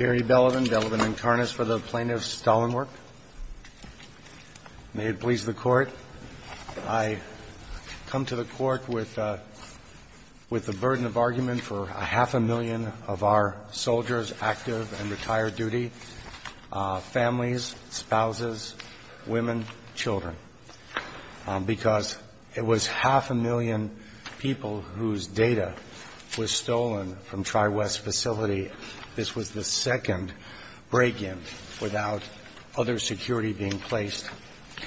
I come to the court with the burden of argument for half a million of our soldiers active and retired duty, families, spouses, women, children, because it was half a million people whose data was stolen from Tri-West facility. And I'm not going to say this was the second break-in without other security being placed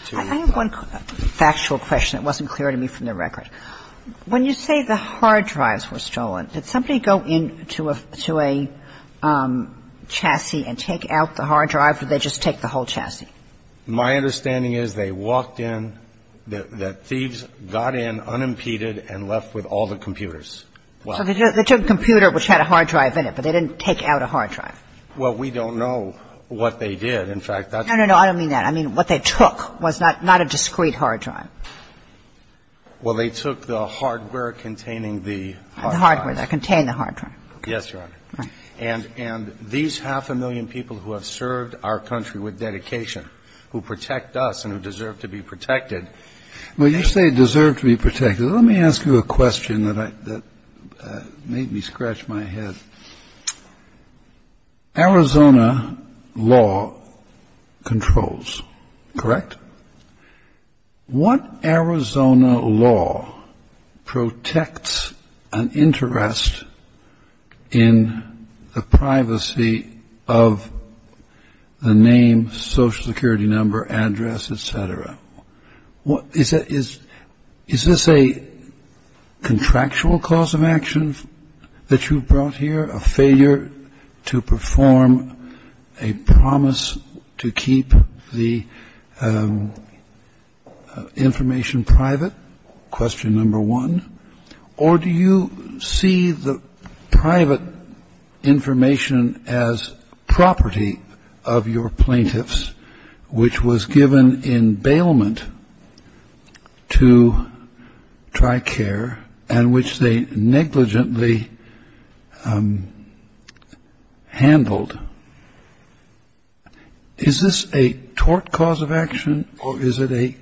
to the other. I have one factual question that wasn't clear to me from the record. When you say the hard drives were stolen, did somebody go in to a chassis and take out the hard drive, or did they just take the whole chassis? My understanding is they walked in, the thieves got in unimpeded and left with all the computers. So they took a computer which had a hard drive in it, but they didn't take out a hard drive. Well, we don't know what they did. In fact, that's the question. No, no, no, I don't mean that. I mean what they took was not a discrete hard drive. Well, they took the hardware containing the hard drive. The hardware that contained the hard drive. Yes, Your Honor. And these half a million people who have served our country with dedication, who protect us and who deserve to be protected, when you say deserve to be protected, let me ask you a question that made me scratch my head. Arizona law controls, correct? What Arizona law protects an interest in the privacy of the name, social security number, address, et cetera? Is this a contractual cause of action that you brought here, a failure to perform a promise to keep the information private? Question number one. Or do you see the private information as property of your plaintiffs, which was given in bailment to TRICARE and which they negligently handled? Is this a tort cause of action or is it a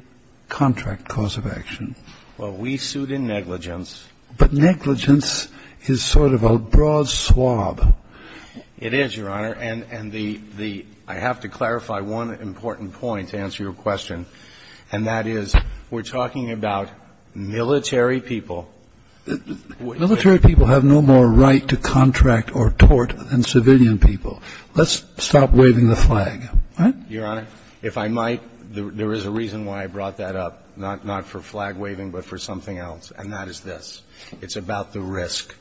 contract cause of action? Well, we sued in negligence. But negligence is sort of a broad swab. It is, Your Honor. And the ‑‑ I have to clarify one important point to answer your question. And that is we're talking about military people. Military people have no more right to contract or tort than civilian people. Let's stop waving the flag. Your Honor, if I might, there is a reason why I brought that up, not for flag waving but for something else. And that is this. It's about the risk.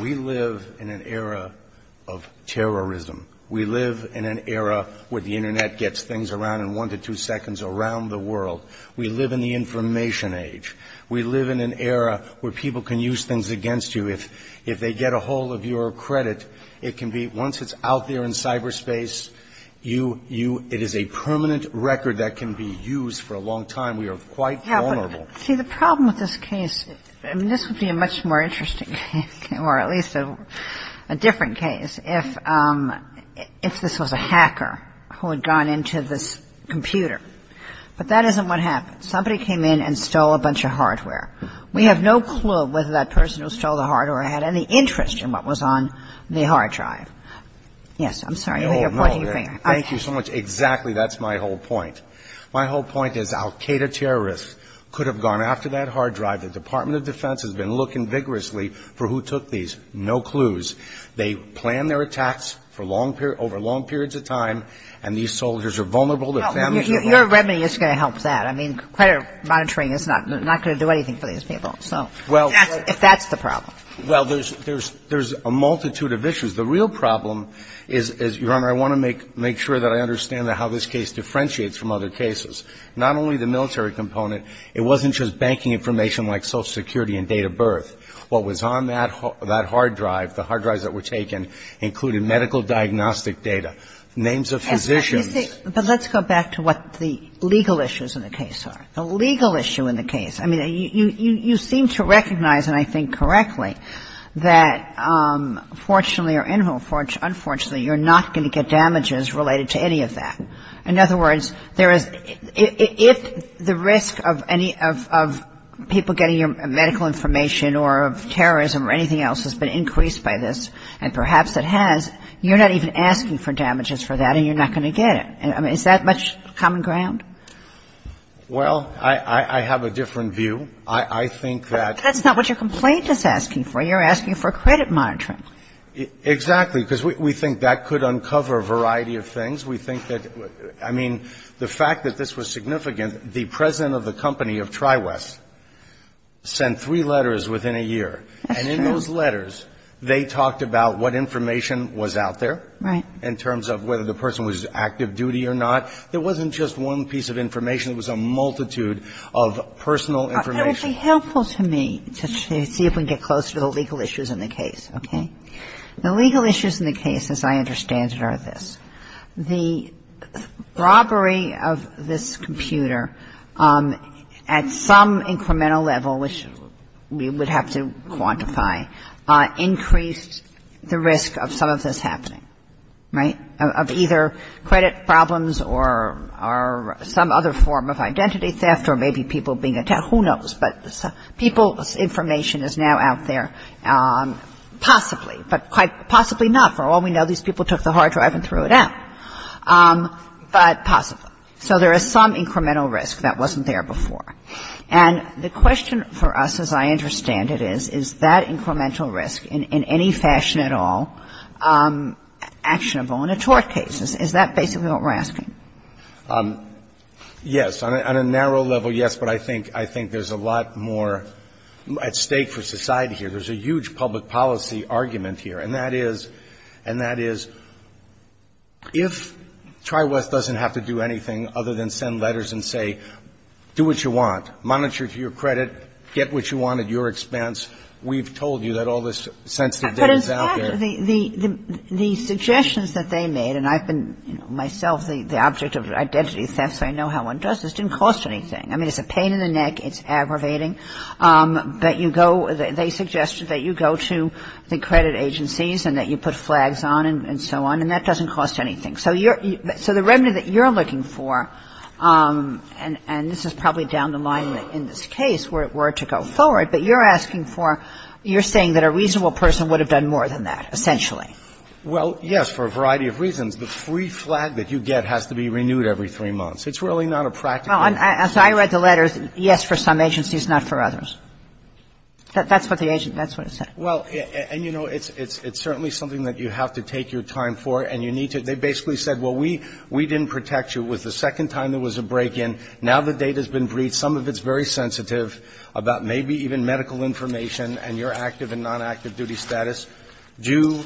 We live in an era of terrorism. We live in an era where the Internet gets things around in one to two seconds around the world. We live in the information age. We live in an era where people can use things against you. If they get a hold of your credit, it can be ‑‑ once it's out there in cyberspace, you ‑‑ it is a permanent record that can be used for a long time. We are quite vulnerable. See, the problem with this case, I mean, this would be a much more interesting case, or at least a different case, if this was a hacker who had gone into this computer. But that isn't what happened. Somebody came in and stole a bunch of hardware. We have no clue whether that person who stole the hardware had any interest in what was on the hard drive. Yes, I'm sorry. You're pointing your finger. Thank you so much. Exactly. That's my whole point. My whole point is Al Qaeda terrorists could have gone after that hard drive. The Department of Defense has been looking vigorously for who took these. No clues. They planned their attacks for long ‑‑ over long periods of time, and these soldiers are vulnerable. Their families are vulnerable. Your remedy is going to help that. I mean, credit monitoring is not going to do anything for these people. So, if that's the problem. Well, there's a multitude of issues. The real problem is, Your Honor, I want to make sure that I understand how this case differentiates from other cases. Not only the military component. It wasn't just banking information like Social Security and date of birth. What was on that hard drive, the hard drives that were taken, included medical diagnostic data, names of physicians. But let's go back to what the legal issues in the case are. The legal issue in the case. I mean, you seem to recognize, and I think correctly, that fortunately or unfortunately, you're not going to get damages related to any of that. In other words, there is ‑‑ if the risk of any ‑‑ of people getting your medical information or of terrorism or anything else has been increased by this, and perhaps it has, you're not even asking for damages for that, and you're not going to get it. I mean, is that much common ground? Well, I have a different view. I think that ‑‑ That's not what your complaint is asking for. You're asking for credit monitoring. Exactly. Because we think that could uncover a variety of things. We think that ‑‑ I mean, the fact that this was significant, the president of the company of TriWest sent three letters within a year. That's true. And in those letters, they talked about what information was out there. Right. In terms of whether the person was active duty or not. There wasn't just one piece of information. It was a multitude of personal information. It would be helpful to me to see if we can get closer to the legal issues in the case. Okay? The legal issues in the case, as I understand it, are this. The robbery of this computer at some incremental level, which we would have to quantify, increased the risk of some of this happening. Right? Of either credit problems or some other form of identity theft or maybe people being attacked. Who knows? But people's information is now out there, possibly. But quite possibly not. For all we know, these people took the hard drive and threw it out. But possibly. So there is some incremental risk that wasn't there before. And the question for us, as I understand it, is, is that incremental risk in any fashion at all actionable in a tort case? Is that basically what we're asking? Yes. On a narrow level, yes. But I think there's a lot more at stake for society here. There's a huge public policy argument here. And that is, and that is, if TriWest doesn't have to do anything other than send letters and say, do what you want, monitor to your credit, get what you want at your expense, we've told you that all this sensitive data is out there. But in fact, the suggestions that they made, and I've been myself the object of identity theft, so I know how one does this, didn't cost anything. I mean, it's a pain in the neck. It's aggravating. But you go, they suggest that you go to the credit agencies and that you put flags on and so on, and that doesn't cost anything. So you're, so the revenue that you're looking for, and this is probably down the line in this case, were to go forward, but you're asking for, you're saying that a reasonable person would have done more than that, essentially. Well, yes, for a variety of reasons. The free flag that you get has to be renewed every three months. It's really not a practical issue. Kagan. Well, as I read the letters, yes, for some agencies, not for others. That's what the agency, that's what it said. Well, and you know, it's certainly something that you have to take your time for, and you need to. They basically said, well, we didn't protect you. It was the second time there was a break-in. Now the data's been briefed. Some of it's very sensitive about maybe even medical information and your active and non-active duty status. Do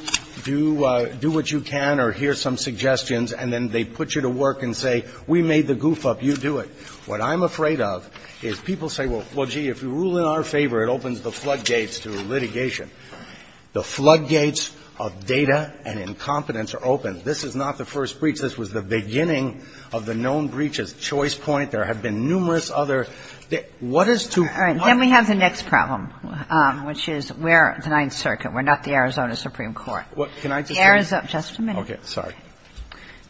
what you can or hear some suggestions, and then they put you to work and say, we made the goof up, you do it. What I'm afraid of is people say, well, gee, if we rule in our favor, it opens the floodgates to litigation. The floodgates of data and incompetence are open. This is not the first breach. This was the beginning of the known breaches. Choice point. There have been numerous other. What is to my mind? Then we have the next problem, which is we're the Ninth Circuit. We're not the Arizona Supreme Court. Can I just say one thing? Just a minute. Okay. Sorry.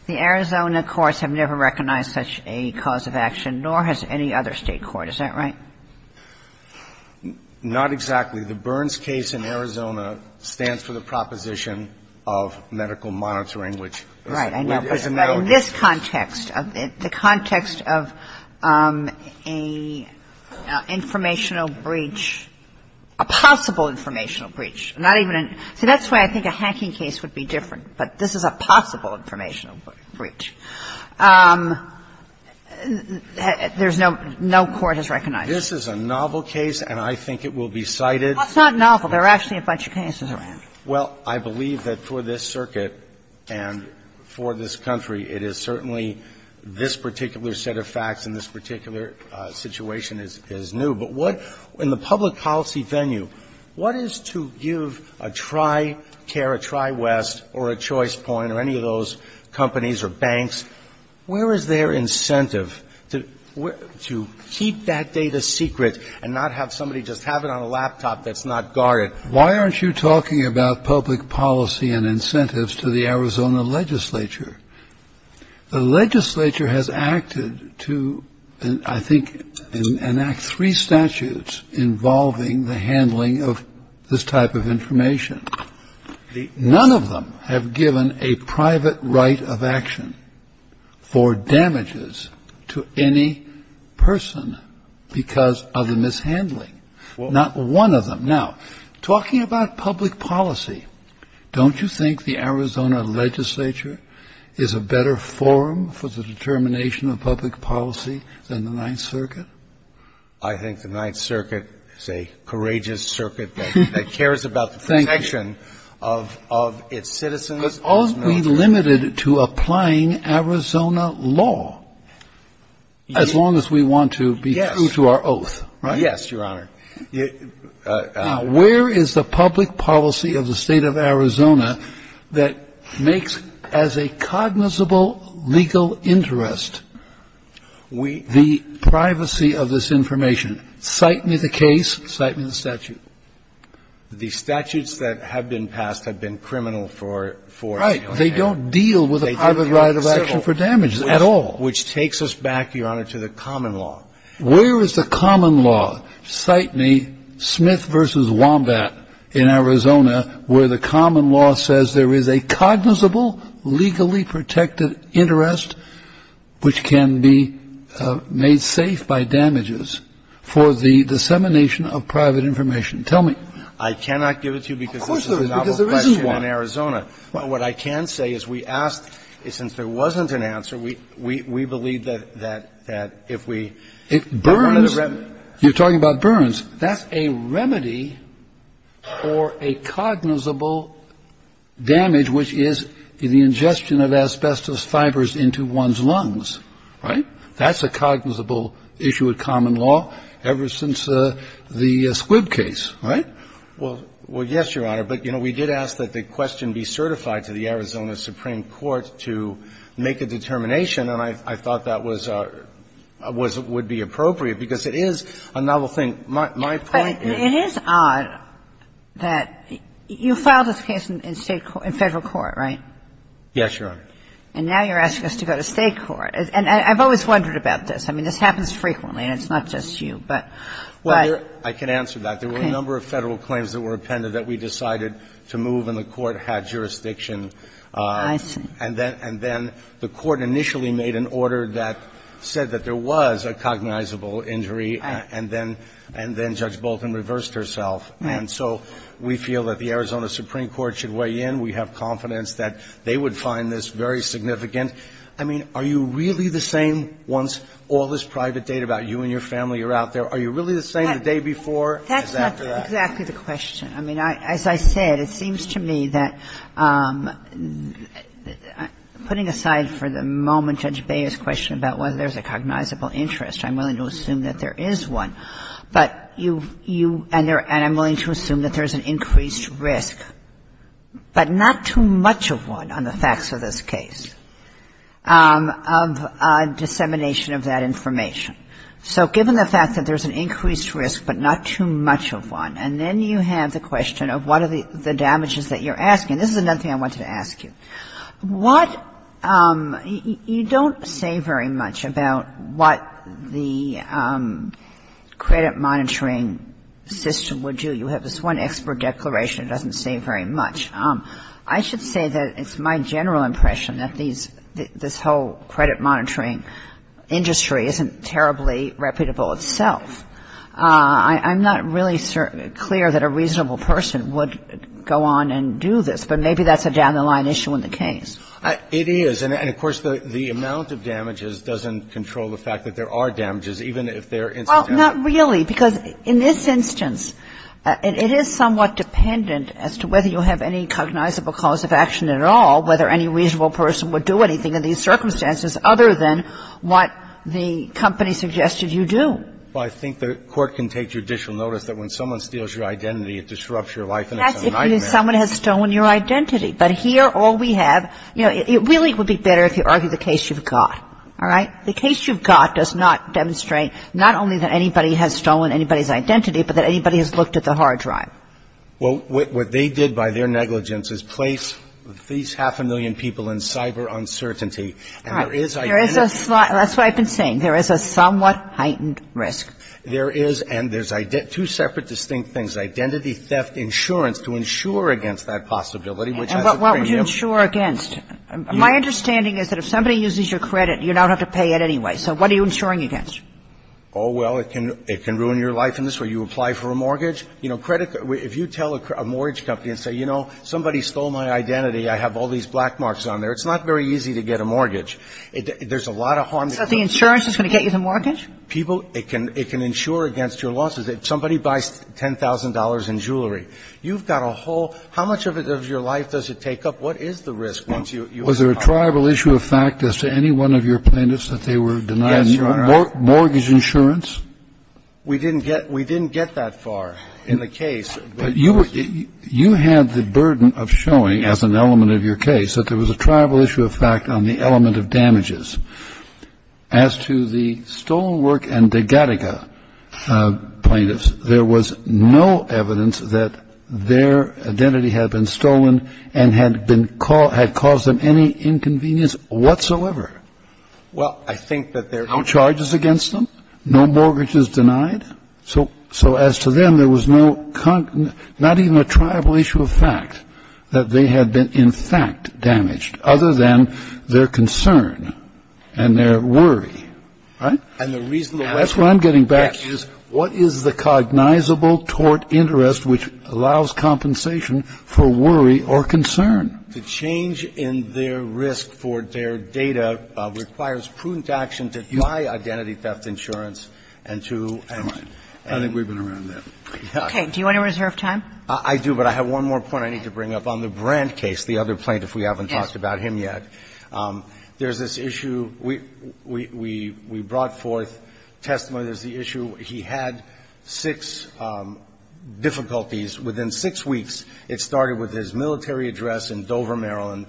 The Arizona courts have never recognized such a cause of action, nor has any other State court. Is that right? Not exactly. The Burns case in Arizona stands for the proposition of medical monitoring, which is a medical case. Right. In this context, the context of a informational breach, a possible informational breach, not even a so that's why I think a hacking case would be different. But this is a possible informational breach. There's no court has recognized. This is a novel case, and I think it will be cited. It's not novel. There are actually a bunch of cases around. Well, I believe that for this circuit and for this country, it is certainly this particular set of facts in this particular situation is new. But what in the public policy venue, what is to give a TriCare, a TriWest, or a Choice Point, or any of those companies or banks, where is their incentive to keep that data secret and not have somebody just have it on a laptop that's not guarded? Why aren't you talking about public policy and incentives to the Arizona legislature? The legislature has acted to, I think, enact three statutes involving the handling of this type of information. None of them have given a private right of action for damages to any person because of the mishandling. Not one of them. Now, talking about public policy, don't you think the Arizona legislature is a better forum for the determination of public policy than the Ninth Circuit? I think the Ninth Circuit is a courageous circuit that cares about the protection of its citizens. Thank you. But aren't we limited to applying Arizona law as long as we want to be true to our oath, right? Yes, Your Honor. Now, where is the public policy of the state of Arizona that makes, as a cognizable legal interest, the privacy of this information? Cite me the case. Cite me the statute. The statutes that have been passed have been criminal for, you know, damage. Right. They don't deal with a private right of action for damages at all. Which takes us back, Your Honor, to the common law. Where is the common law? Cite me Smith v. Wombat in Arizona, where the common law says there is a cognizable, legally protected interest which can be made safe by damages for the dissemination of private information. Tell me. I cannot give it to you because this is a novel question in Arizona. But what I can say is we asked, since there wasn't an answer, we believe that if we if Burns You're talking about Burns. That's a remedy for a cognizable damage, which is the ingestion of asbestos fibers into one's lungs. Right? That's a cognizable issue of common law ever since the Squibb case. Right? Well, yes, Your Honor. But, you know, we did ask that the question be certified to the Arizona Supreme Court to make a determination, and I thought that was a rare thing to do. I thought it would be appropriate, because it is a novel thing. My point is But it is odd that you filed this case in state court, in Federal court, right? Yes, Your Honor. And now you're asking us to go to state court. And I've always wondered about this. I mean, this happens frequently, and it's not just you, but Well, I can answer that. There were a number of Federal claims that were appended that we decided to move and the court had jurisdiction. I see. And then the court initially made an order that said that there was a cognizable injury and then Judge Bolton reversed herself. Right. And so we feel that the Arizona Supreme Court should weigh in. We have confidence that they would find this very significant. I mean, are you really the same once all this private data about you and your family are out there? Are you really the same the day before as after that? That's not exactly the question. I mean, as I said, it seems to me that, putting aside for the moment Judge Beyer's question about whether there's a cognizable interest, I'm willing to assume that there is one, but you – and I'm willing to assume that there's an increased risk, but not too much of one on the facts of this case, of dissemination of that information. So given the fact that there's an increased risk, but not too much of one, and then you have the question of what are the damages that you're asking. This is another thing I wanted to ask you. What – you don't say very much about what the credit monitoring system would do. You have this one expert declaration. It doesn't say very much. I should say that it's my general impression that these – this whole credit monitoring industry isn't terribly reputable itself. I'm not really clear that a reasonable person would go on and do this, but maybe that's a down-the-line issue in the case. It is. And of course, the amount of damages doesn't control the fact that there are damages, even if they're incidental. Well, not really, because in this instance, it is somewhat dependent as to whether you have any cognizable cause of action at all, whether any reasonable person would do anything in these circumstances other than what the company suggested you do. But I think the Court can take judicial notice that when someone steals your identity, it disrupts your life, and it's a nightmare. That's if someone has stolen your identity. But here, all we have – you know, it really would be better if you argue the case you've got. All right? The case you've got does not demonstrate not only that anybody has stolen anybody's identity, but that anybody has looked at the hard drive. Well, what they did by their negligence is place these half a million people in cyber uncertainty, and there is identity. All right. There is a – that's what I've been saying. There is a somewhat heightened risk. There is, and there's two separate distinct things, identity theft insurance to insure against that possibility, which has a premium. And what would you insure against? My understanding is that if somebody uses your credit, you don't have to pay it anyway. So what are you insuring against? Oh, well, it can ruin your life in this way. You apply for a mortgage. You know, credit – if you tell a mortgage company and say, you know, somebody stole my identity, I have all these black marks on there, it's not very easy to get a mortgage. There's a lot of harm to credit. So the insurance is going to get you the mortgage? People – it can – it can insure against your losses. If somebody buys $10,000 in jewelry, you've got a whole – how much of it of your life does it take up? What is the risk once you – you have a problem? Was there a tribal issue of fact as to any one of your plaintiffs that they were denied mortgage insurance? Yes, Your Honor. We didn't get – we didn't get that far in the case. But you were – you had the burden of showing as an element of your case that there was a tribal issue of fact on the element of damages. As to the stolen work and the Gattaca plaintiffs, there was no evidence that their identity had been stolen and had been – had caused them any inconvenience whatsoever. Well, I think that there – No charges against them, no mortgages denied. So – so as to them, there was no – not even a tribal issue of fact that they had been, in fact, damaged, other than their concern and their worry, right? And the reason – That's what I'm getting back is what is the cognizable tort interest which allows compensation for worry or concern? The change in their risk for their data requires prudent action to deny identity theft insurance and to – I think we've been around that. Okay. Do you want to reserve time? I do. But I have one more point I need to bring up on the Brandt case, the other plaintiff we haven't talked about him yet. Yes. There's this issue we – we – we brought forth testimony. There's the issue he had six difficulties. Within six weeks, it started with his military address in Dover, Maryland,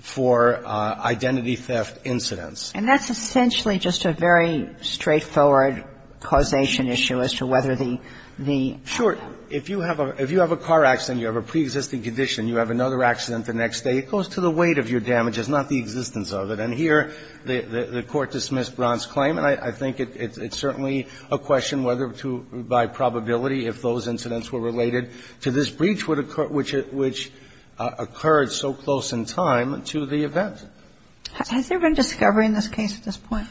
for identity theft incidents. And that's essentially just a very straightforward causation issue as to whether the – the – Sure. If you have a – if you have a car accident, you have a preexisting condition, you have another accident the next day, it goes to the weight of your damages, not the existence of it. And here, the Court dismissed Brandt's claim. And I think it's certainly a question whether to – by probability, if those incidents were related to this breach which occurred so close in time to the event. Has there been discovery in this case at this point?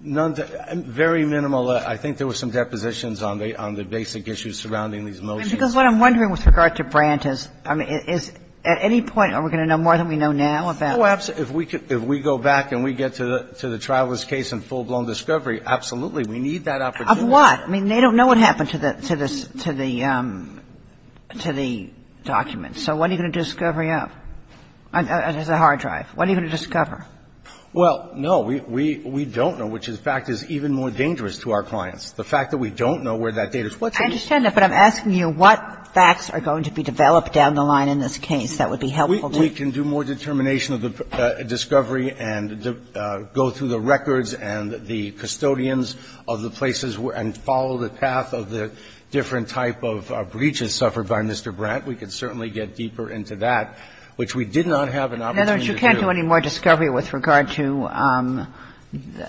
Very minimal. I think there were some depositions on the – on the basic issues surrounding these motions. And because what I'm wondering with regard to Brandt is, I mean, is at any point are we going to know more than we know now about it? Oh, absolutely. If we could – if we go back and we get to the – to the Traveler's case and full-blown discovery, absolutely. We need that opportunity. Of what? I mean, they don't know what happened to the – to the – to the documents. So what are you going to do discovery of as a hard drive? What are you going to discover? Well, no. We – we don't know, which in fact is even more dangerous to our clients. The fact that we don't know where that data is. What's the reason? I understand that, but I'm asking you what facts are going to be developed down the line in this case that would be helpful to you? We can do more determination of the discovery and go through the records and the custodians of the places and follow the path of the different type of breaches suffered by Mr. Brandt. We could certainly get deeper into that, which we did not have an opportunity to do. In other words, you can't do any more discovery with regard to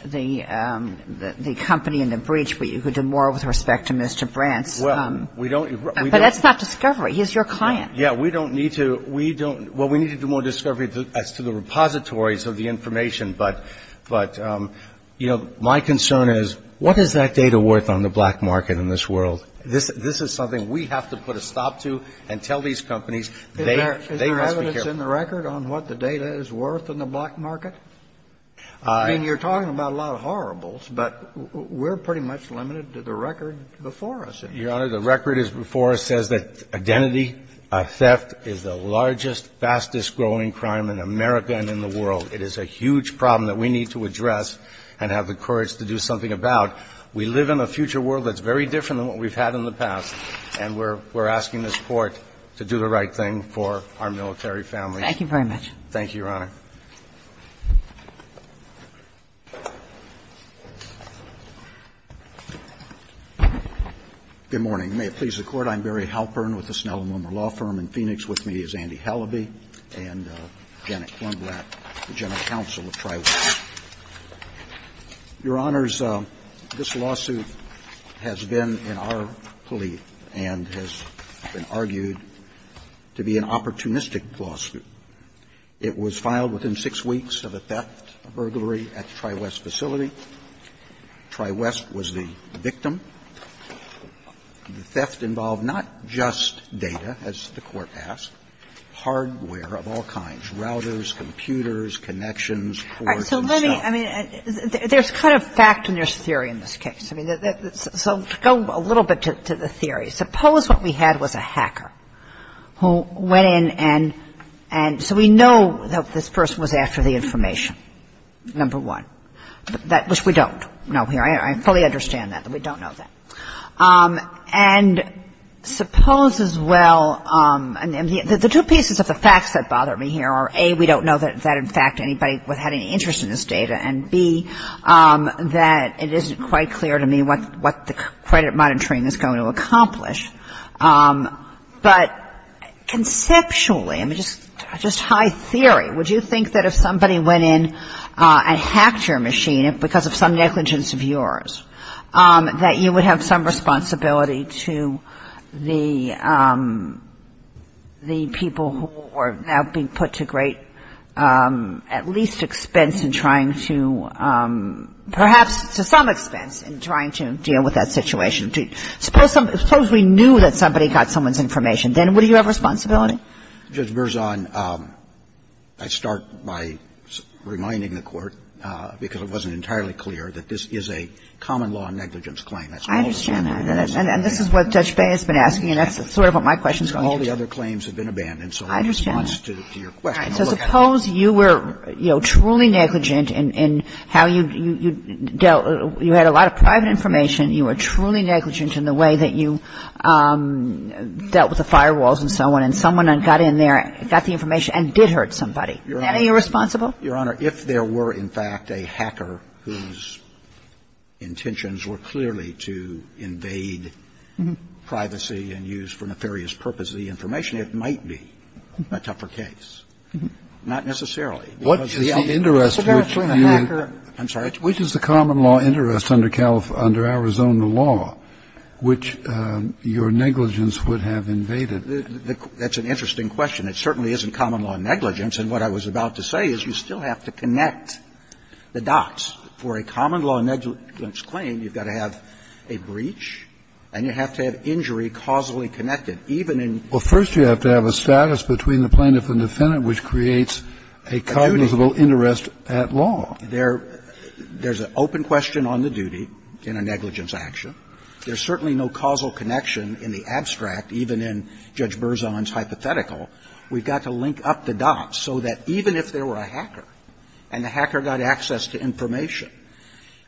the – the company and the breach, but you could do more with respect to Mr. Brandt's – Well, we don't – we don't – But that's not discovery. He's your client. Yeah, we don't need to – we don't – well, we need to do more discovery as to the repositories of the information. But – but, you know, my concern is what is that data worth on the black market in this world? This – this is something we have to put a stop to and tell these companies they – they must be careful. I mean, you're talking about a lot of horribles, but we're pretty much limited to the record before us. Your Honor, the record is – before us says that identity theft is the largest, fastest-growing crime in America and in the world. It is a huge problem that we need to address and have the courage to do something about. We live in a future world that's very different than what we've had in the past, and we're – we're asking this Court to do the right thing for our military families. Thank you very much. Thank you, Your Honor. Good morning. May it please the Court. I'm Barry Halpern with the Snell and Wilmer Law Firm in Phoenix. With me is Andy Halliby and Janet Klumblatt, the general counsel of Tri-Webs. Your Honors, this lawsuit has been in our plea and has been argued to be an opportunistic lawsuit. It was filed within six weeks of a theft, a burglary at the Tri-Webs facility. Tri-Webs was the victim. The theft involved not just data, as the Court asked, hardware of all kinds, routers, computers, connections, ports and stuff. All right. So let me – I mean, there's kind of fact and there's theory in this case. I mean, so to go a little bit to the theory, suppose what we had was a hacker who went in and – so we know that this person was after the information, number one, which we don't know here. I fully understand that, that we don't know that. And suppose as well – and the two pieces of the facts that bother me here are, A, we don't know that, in fact, anybody had any interest in this data, and, B, that it isn't quite clear to me what the credit monitoring is going to accomplish. But conceptually, I mean, just high theory, would you think that if somebody went in and hacked your machine because of some negligence of yours, that you would have some responsibility to the people who are now being put to great, at least, expense in trying to – perhaps to some expense in trying to deal with that situation? Suppose we knew that somebody got someone's information, then would you have responsibility? Judge Berzon, I start by reminding the Court, because it wasn't entirely clear, that this is a common law negligence claim. I understand that. And this is what Judge Bey has been asking, and that's sort of what my question is going to be. All the other claims have been abandoned, so in response to your question, I'll look at it. So suppose you were, you know, truly negligent in how you dealt – you had a lot of negligence in the way that you dealt with the firewalls and so on, and someone got in there, got the information, and did hurt somebody. Is that any irresponsible? Your Honor, if there were, in fact, a hacker whose intentions were clearly to invade privacy and use for nefarious purposes the information, it might be a tougher case. Not necessarily. What's the interest between the – I'm sorry. Which is the common law interest under Arizona law, which your negligence would have invaded? That's an interesting question. It certainly isn't common law negligence. And what I was about to say is you still have to connect the dots. For a common law negligence claim, you've got to have a breach, and you have to have injury causally connected, even in – Well, first you have to have a status between the plaintiff and defendant, which creates a cognizable interest at law. There's an open question on the duty in a negligence action. There's certainly no causal connection in the abstract, even in Judge Berzon's hypothetical. We've got to link up the dots so that even if there were a hacker and the hacker got access to information,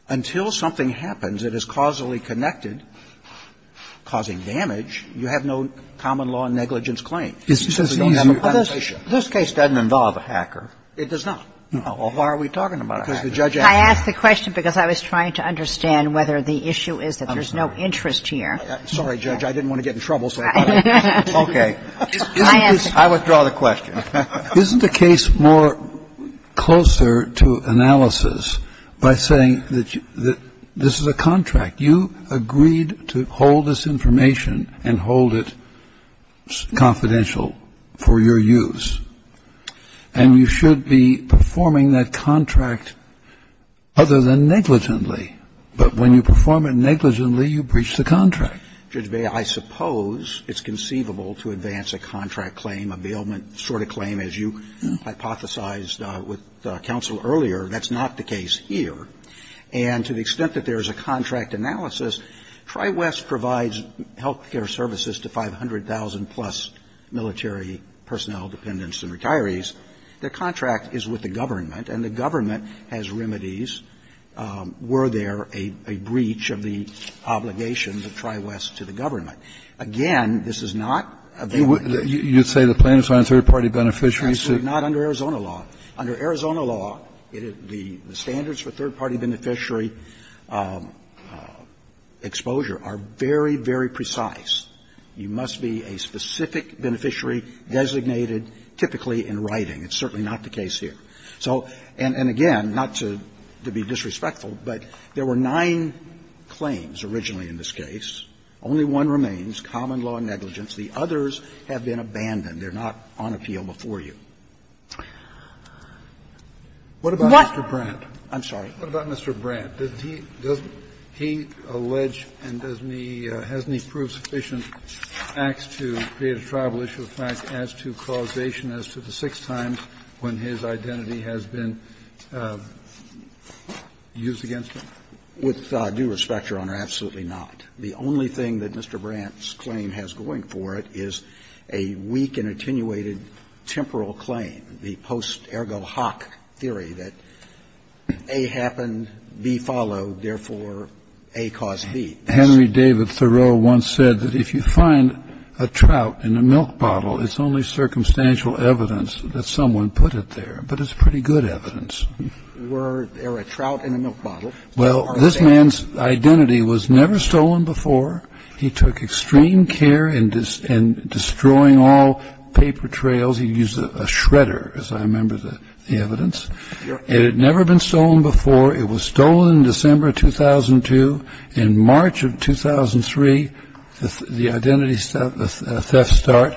until something happens that is causally connected, causing damage, you have no common law negligence claim. It's just easier. This case doesn't involve a hacker. It does not. Well, why are we talking about a hacker? I asked the question because I was trying to understand whether the issue is that there's no interest here. I'm sorry, Judge. I didn't want to get in trouble, so I thought I would. Okay. I withdraw the question. Isn't the case more closer to analysis by saying that this is a contract? You agreed to hold this information and hold it confidential for your use. And you should be performing that contract other than negligently. But when you perform it negligently, you breach the contract. Judge Beyer, I suppose it's conceivable to advance a contract claim, a bailment sort of claim, as you hypothesized with counsel earlier. That's not the case here. And to the extent that there is a contract analysis, Tri-West provides health care services to 500,000-plus military personnel, dependents, and retirees. The contract is with the government, and the government has remedies were there a breach of the obligation of Tri-West to the government. Again, this is not a bailment. You would say the plaintiffs are on third-party beneficiary suit? Absolutely not under Arizona law. Under Arizona law, the standards for third-party beneficiary exposure are very, very precise. You must be a specific beneficiary designated typically in writing. It's certainly not the case here. So, and again, not to be disrespectful, but there were nine claims originally in this case. Only one remains, common law negligence. The others have been abandoned. They're not on appeal before you. What about Mr. Brandt? I'm sorry. What about Mr. Brandt? Does he allege and does he or has he proved sufficient facts to create a tribal issue of facts as to causation as to the six times when his identity has been used against him? With due respect, Your Honor, absolutely not. The only thing that Mr. Brandt's claim has going for it is a weak and attenuated temporal claim, the post-Ergo-Hawk theory that A happened, B followed, therefore A caused B. Henry David Thoreau once said that if you find a trout in a milk bottle, it's only circumstantial evidence that someone put it there, but it's pretty good evidence. Were there a trout in a milk bottle? Well, this man's identity was never stolen before. He took extreme care in destroying all paper trails. He used a shredder, as I remember the evidence. It had never been stolen before. It was stolen in December of 2002. In March of 2003, the identity theft start.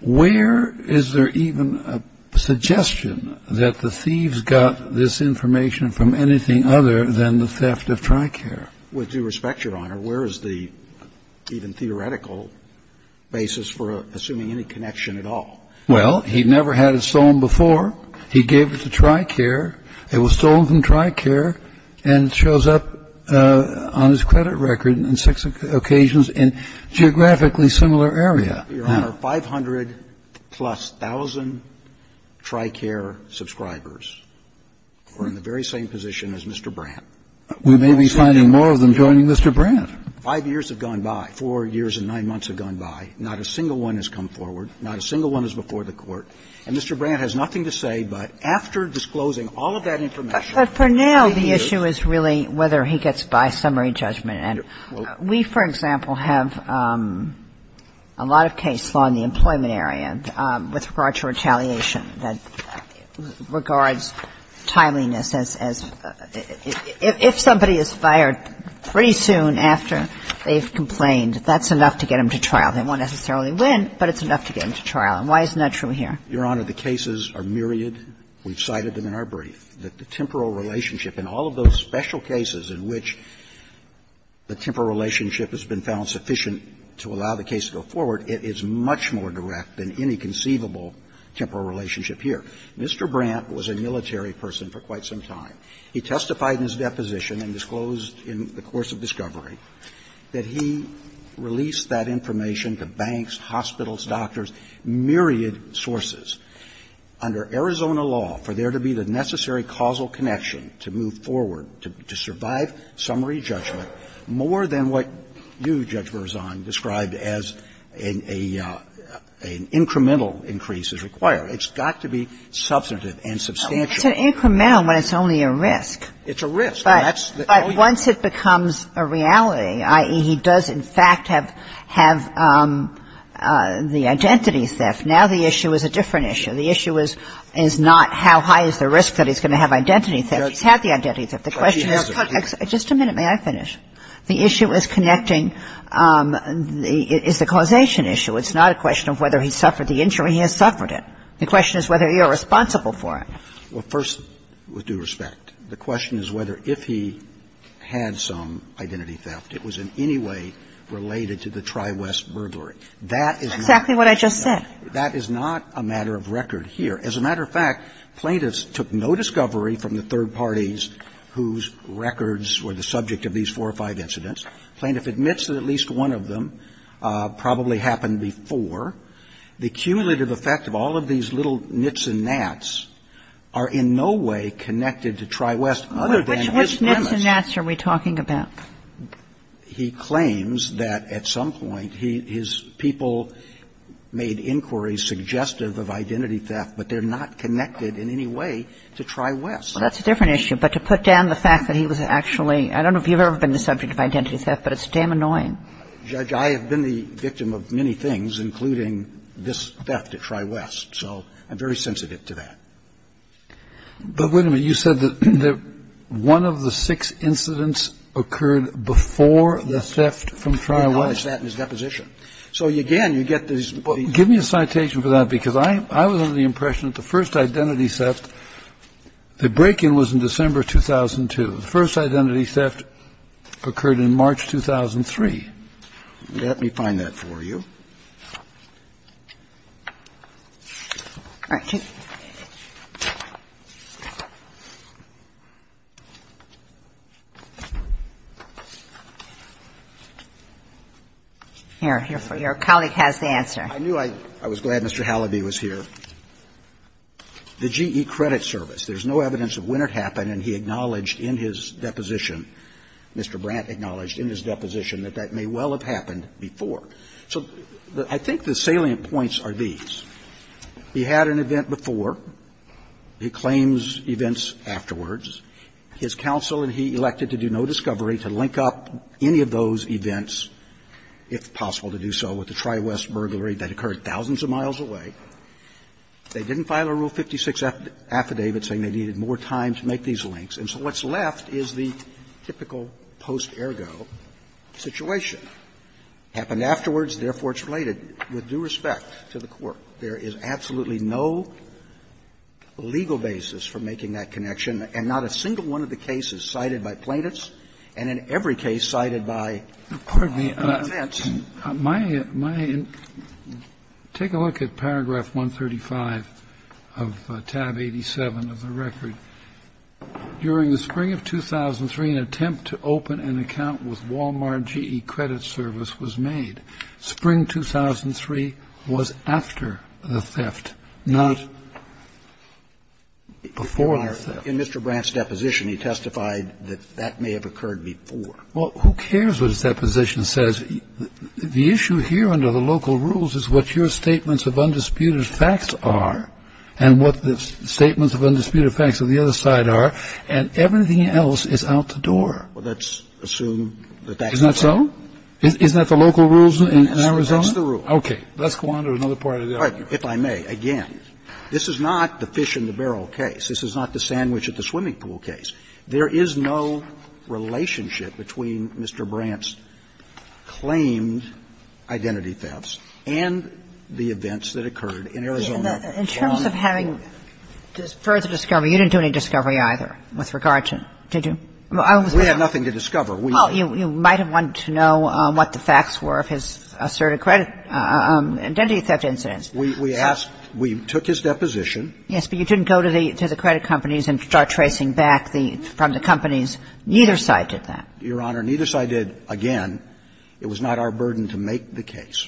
Where is there even a suggestion that the thieves got this information from anything other than the theft of tri-care? With due respect, Your Honor, where is the even theoretical basis for assuming any connection at all? Well, he never had it stolen before. He gave it to tri-care. It was stolen from tri-care and shows up on his credit record on six occasions in geographically similar area. Your Honor, 500-plus thousand tri-care subscribers are in the very same position as Mr. Brandt. We may be finding more of them joining Mr. Brandt. Five years have gone by. Four years and nine months have gone by. Not a single one has come forward. Not a single one is before the Court. And Mr. Brandt has nothing to say, but after disclosing all of that information he is. But for now, the issue is really whether he gets by summary judgment. And we, for example, have a lot of case law in the employment area with regard to retaliation that regards timeliness as — if somebody is fired pretty soon after they've complained, that's enough to get them to trial. They won't necessarily win, but it's enough to get them to trial. And why isn't that true here? Your Honor, the cases are myriad. We've cited them in our brief. The temporal relationship in all of those special cases in which the temporal relationship has been found sufficient to allow the case to go forward, it is much more direct than any conceivable temporal relationship here. Mr. Brandt was a military person for quite some time. He testified in his deposition and disclosed in the course of discovery that he released that information to banks, hospitals, doctors, myriad sources. Under Arizona law, for there to be the necessary causal connection to move forward to survive summary judgment, more than what you, Judge Berzon, described as an incremental increase is required, it's got to be substantive and substantial. It's an incremental when it's only a risk. It's a risk. But once it becomes a reality, i.e., he does, in fact, have the identity theft, now the issue is a different issue. The issue is not how high is the risk that he's going to have identity theft. He's had the identity theft. The question is, just a minute, may I finish? The issue is connecting the – is the causation issue. It's not a question of whether he suffered the injury. He has suffered it. The question is whether you're responsible for it. Well, first, with due respect, the question is whether if he had some identity theft, it was in any way related to the Tri-West burglary. That is not a matter of record here. I have a friend who's a lawyer and a lawyer who's a journalist, a journalist whose records were the subject of these four or five incidents, plaintiff admits that at least one of them probably happened before. The cumulative effect of all of these little nits and gnats are in no way connected to Tri-West other than his premise. Which nits and gnats are we talking about? He claims that at some point his people made inquiries suggestive of identity theft, but they're not connected in any way to Tri-West. Well, that's a different issue. But to put down the fact that he was actually – I don't know if you've ever been the subject of identity theft, but it's damn annoying. Judge, I have been the victim of many things, including this theft at Tri-West. So I'm very sensitive to that. But wait a minute. You said that one of the six incidents occurred before the theft from Tri-West. We've noticed that in his deposition. So again, you get this – Give me a citation for that, because I was under the impression that the first identity theft, the break-in was in December 2002. The first identity theft occurred in March 2003. Let me find that for you. All right. Here. Your colleague has the answer. I knew I – I was glad Mr. Halliby was here. The GE Credit Service. There's no evidence of when it happened, and he acknowledged in his deposition – Mr. Brandt acknowledged in his deposition that that may well have happened before. So I think the salient points are these. He had an event before. He claims events afterwards. His counsel and he elected to do no discovery to link up any of those events, if possible, to do so with the Tri-West burglary that occurred thousands of miles away. They didn't file a Rule 56 affidavit saying they needed more time to make these links. And so what's left is the typical post-ergo situation. It happened afterwards, therefore it's related with due respect to the Court. There is absolutely no legal basis for making that connection, and not a single one of the cases cited by plaintiffs and in every case cited by the defense. My – my – take a look at paragraph 135 of tab 87 of the record. During the spring of 2003, an attempt to open an account with Wal-Mart GE Credit Service was made. Spring 2003 was after the theft, not before the theft. In Mr. Brandt's deposition, he testified that that may have occurred before. Well, who cares what his deposition says? The issue here under the local rules is what your statements of undisputed facts are and what the statements of undisputed facts on the other side are, and everything else is out the door. Well, let's assume that that's not true. Isn't that so? Isn't that the local rules in Arizona? That's the rule. Okay. Let's go on to another part of the argument. If I may, again, this is not the fish in the barrel case. This is not the sandwich at the swimming pool case. There is no relationship between Mr. Brandt's claimed identity thefts and the events that occurred in Arizona on the other side. In terms of having further discovery, you didn't do any discovery either with regard to – did you? I was going to say – We had nothing to discover. We – Well, you might have wanted to know what the facts were of his asserted credit identity theft incidents. We asked – we took his deposition. Yes, but you didn't go to the credit companies and start tracing back the – from the companies. Neither side did that. Your Honor, neither side did. Again, it was not our burden to make the case.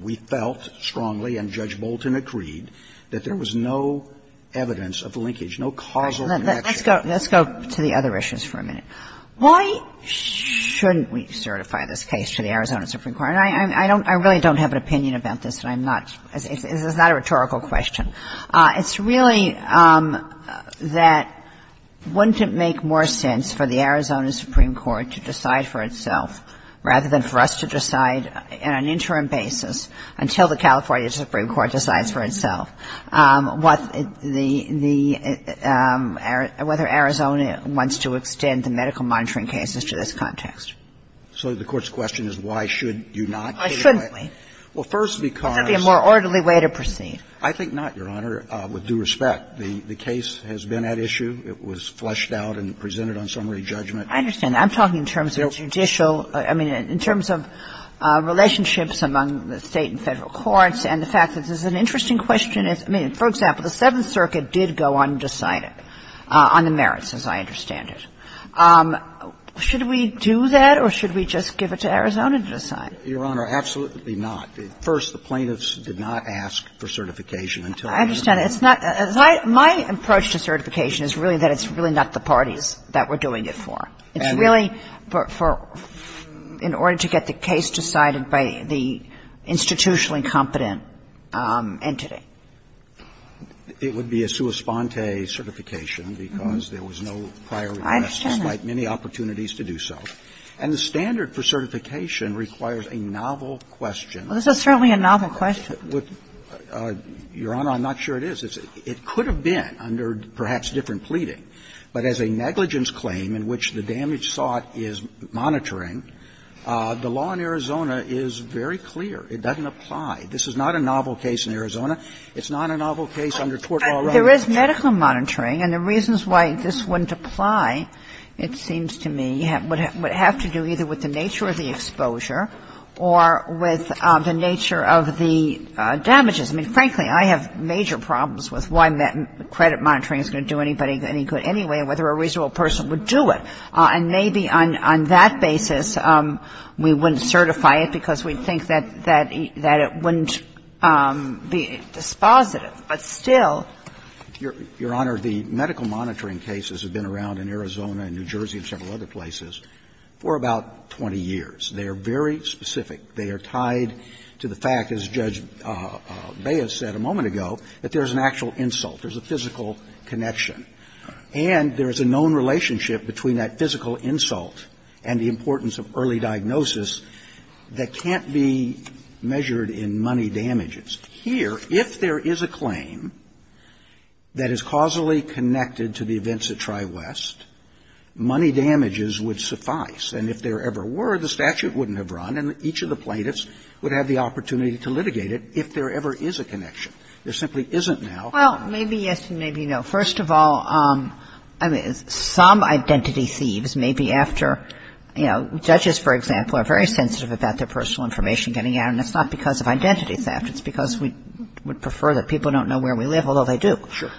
We felt strongly, and Judge Bolton agreed, that there was no evidence of linkage, no causal connection. Let's go to the other issues for a minute. Why shouldn't we certify this case to the Arizona Supreme Court? I don't – I really don't have an opinion about this, and I'm not – it's not a rhetorical question. It's really that wouldn't it make more sense for the Arizona Supreme Court to decide for itself, rather than for us to decide on an interim basis until the California Supreme Court decides for itself what the – the – whether Arizona wants to extend the medical monitoring cases to this context? So the Court's question is why should you not certify? Why shouldn't we? Well, first, because – Would that be a more orderly way to proceed? I think not, Your Honor, with due respect. The case has been at issue. It was fleshed out and presented on summary judgment. I understand. I'm talking in terms of judicial – I mean, in terms of relationships among the State and Federal courts, and the fact that this is an interesting question. I mean, for example, the Seventh Circuit did go undecided on the merits, as I understand it. Should we do that, or should we just give it to Arizona to decide? Your Honor, absolutely not. First, the plaintiffs did not ask for certification until they had been – I understand. It's not – my approach to certification is really that it's really not the parties that we're doing it for. It's really for – in order to get the case decided by the institutionally competent entity. It would be a sua sponte certification because there was no prior request, despite many opportunities to do so. And the standard for certification requires a novel question. Well, this is certainly a novel question. Your Honor, I'm not sure it is. It could have been under perhaps different pleading, but as a negligence claim in which the damage sought is monitoring, the law in Arizona is very clear. It doesn't apply. This is not a novel case in Arizona. It's not a novel case under tort law. There is medical monitoring, and the reasons why this wouldn't apply, it seems to me, would have to do either with the nature of the exposure or with the nature of the damages. I mean, frankly, I have major problems with why credit monitoring is going to do anybody any good anyway and whether a reasonable person would do it. And maybe on that basis, we wouldn't certify it because we think that it wouldn't be dispositive. But still – Your Honor, the medical monitoring cases have been around in Arizona and New Jersey and several other places for about 20 years. They are very specific. They are tied to the fact, as Judge Beyes said a moment ago, that there is an actual insult. There is a physical connection. And there is a known relationship between that physical insult and the importance of early diagnosis that can't be measured in money damages. Here, if there is a claim that is causally connected to the events at TriWest, money damages would suffice. And if there ever were, the statute wouldn't have run, and each of the plaintiffs would have the opportunity to litigate it if there ever is a connection. There simply isn't now. Well, maybe yes and maybe no. First of all, I mean, some identity thieves may be after – you know, judges, for example, are very sensitive about their personal information getting out, and it's not because of identity theft. It's because we would prefer that people don't know where we live, although they do. Sure.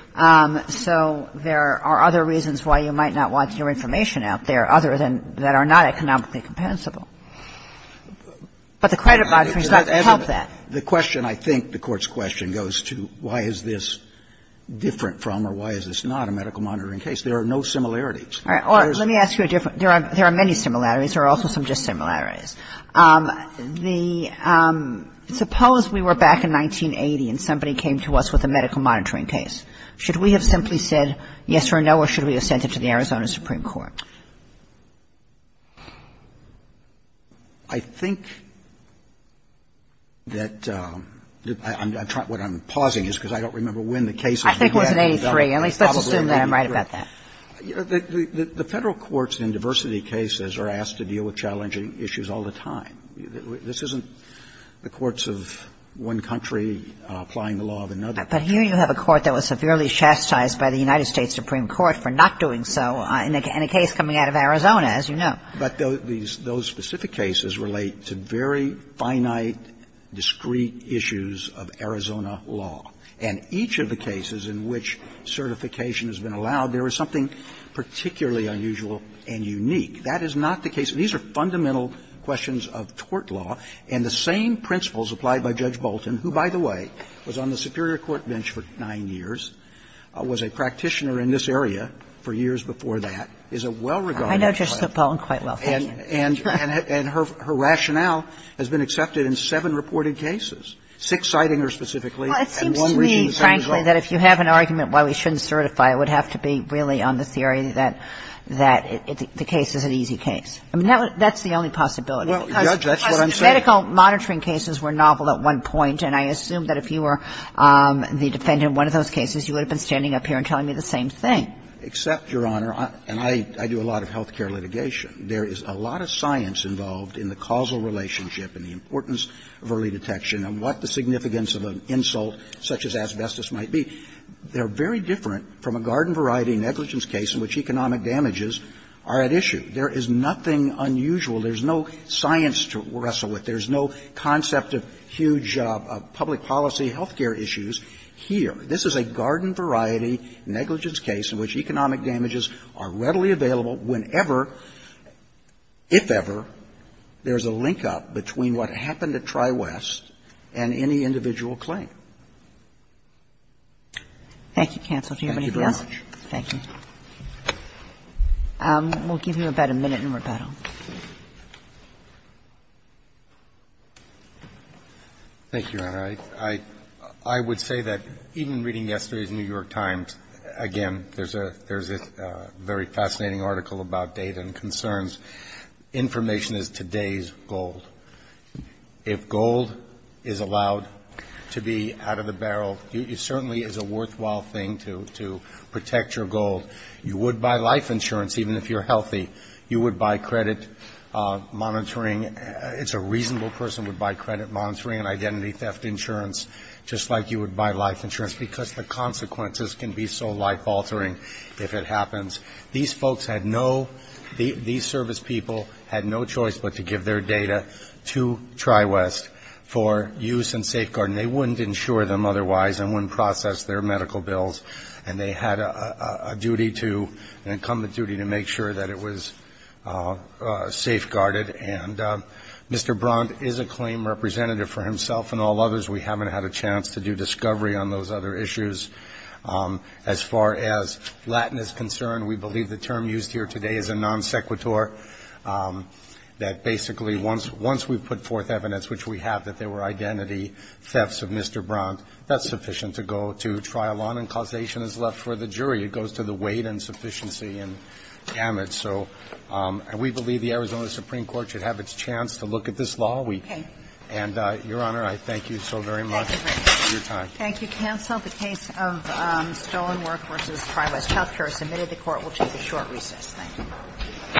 So there are other reasons why you might not want your information out there, other than that are not economically compensable. But the credit monitoring does not help that. The question, I think, the Court's question goes to why is this different from or why is this not a medical monitoring case. There are no similarities. All right. Or let me ask you a different – there are many similarities. There are also some just similarities. The – suppose we were back in 1980 and somebody came to us with a medical monitoring case. Should we have simply said yes or no, or should we have sent it to the Arizona Supreme Court? I think that – I'm trying – what I'm pausing is because I don't remember when the case was. I think it was in 83. At least let's assume that I'm right about that. The Federal courts in diversity cases are asked to deal with challenging issues all the time. This isn't the courts of one country applying the law of another. But here you have a court that was severely chastised by the United States Supreme Court for not doing so in a case coming out of Arizona, as you know. But those specific cases relate to very finite, discreet issues of Arizona law. And each of the cases in which certification has been allowed, there is something particularly unusual and unique. That is not the case – these are fundamental questions of tort law. And the same principles applied by Judge Bolton, who, by the way, was on the Superior Court bench for nine years, was a practitioner in this area for years before that, is a well-regarded practitioner. I know Judge Bolton quite well, thank you. And her rationale has been accepted in seven reported cases, six citing her specifically and one reaching the same result. Well, it seems to me, frankly, that if you have an argument why we shouldn't certify, it would have to be really on the theory that the case is an easy case. I mean, that's the only possibility. Well, Judge, that's what I'm saying. Because medical monitoring cases were novel at one point, and I assume that if you were the defendant in one of those cases, you would have been standing up here and telling me the same thing. Except, Your Honor, and I do a lot of health care litigation, there is a lot of science involved in the causal relationship and the importance of early detection and what the significance of an insult such as asbestos might be. They're very different from a garden variety negligence case in which economic damages are at issue. There is nothing unusual. There's no science to wrestle with. There's no concept of huge public policy health care issues here. This is a garden variety negligence case in which economic damages are readily available whenever, if ever, there's a link-up between what happened at TriWest and any individual claim. Thank you, counsel. Do you have anything else? Thank you very much. Thank you. We'll give you about a minute in rebuttal. Thank you, Your Honor. I would say that even reading yesterday's New York Times, again, there's a very fascinating article about data and concerns. Information is today's gold. If gold is allowed to be out of the barrel, it certainly is a worthwhile thing to protect your gold. You would buy life insurance, even if you're healthy. You would buy credit monitoring. It's a reasonable person would buy credit monitoring and identity theft insurance, just like you would buy life insurance, because the consequences can be so life-altering if it happens. These folks had no – these service people had no choice but to give their data to TriWest for use and safeguard. And they wouldn't insure them otherwise and wouldn't process their medical bills. And they had a duty to – an incumbent duty to make sure that it was safeguarded. And Mr. Brandt is a claim representative for himself and all others. We haven't had a chance to do discovery on those other issues. As far as Latin is concerned, we believe the term used here today is a non sequitur, that basically once we've put forth evidence, which we have, that there were identity thefts of Mr. Brandt, that's sufficient to go to trial on and causation is left for the jury. It goes to the weight and sufficiency and damage. So we believe the Arizona Supreme Court should have its chance to look at this law. We – and, Your Honor, I thank you so very much for your time. Thank you, counsel. The case of Stolen Work vs. TriWest Healthcare is submitted. The Court will choose a short recess. Thank you.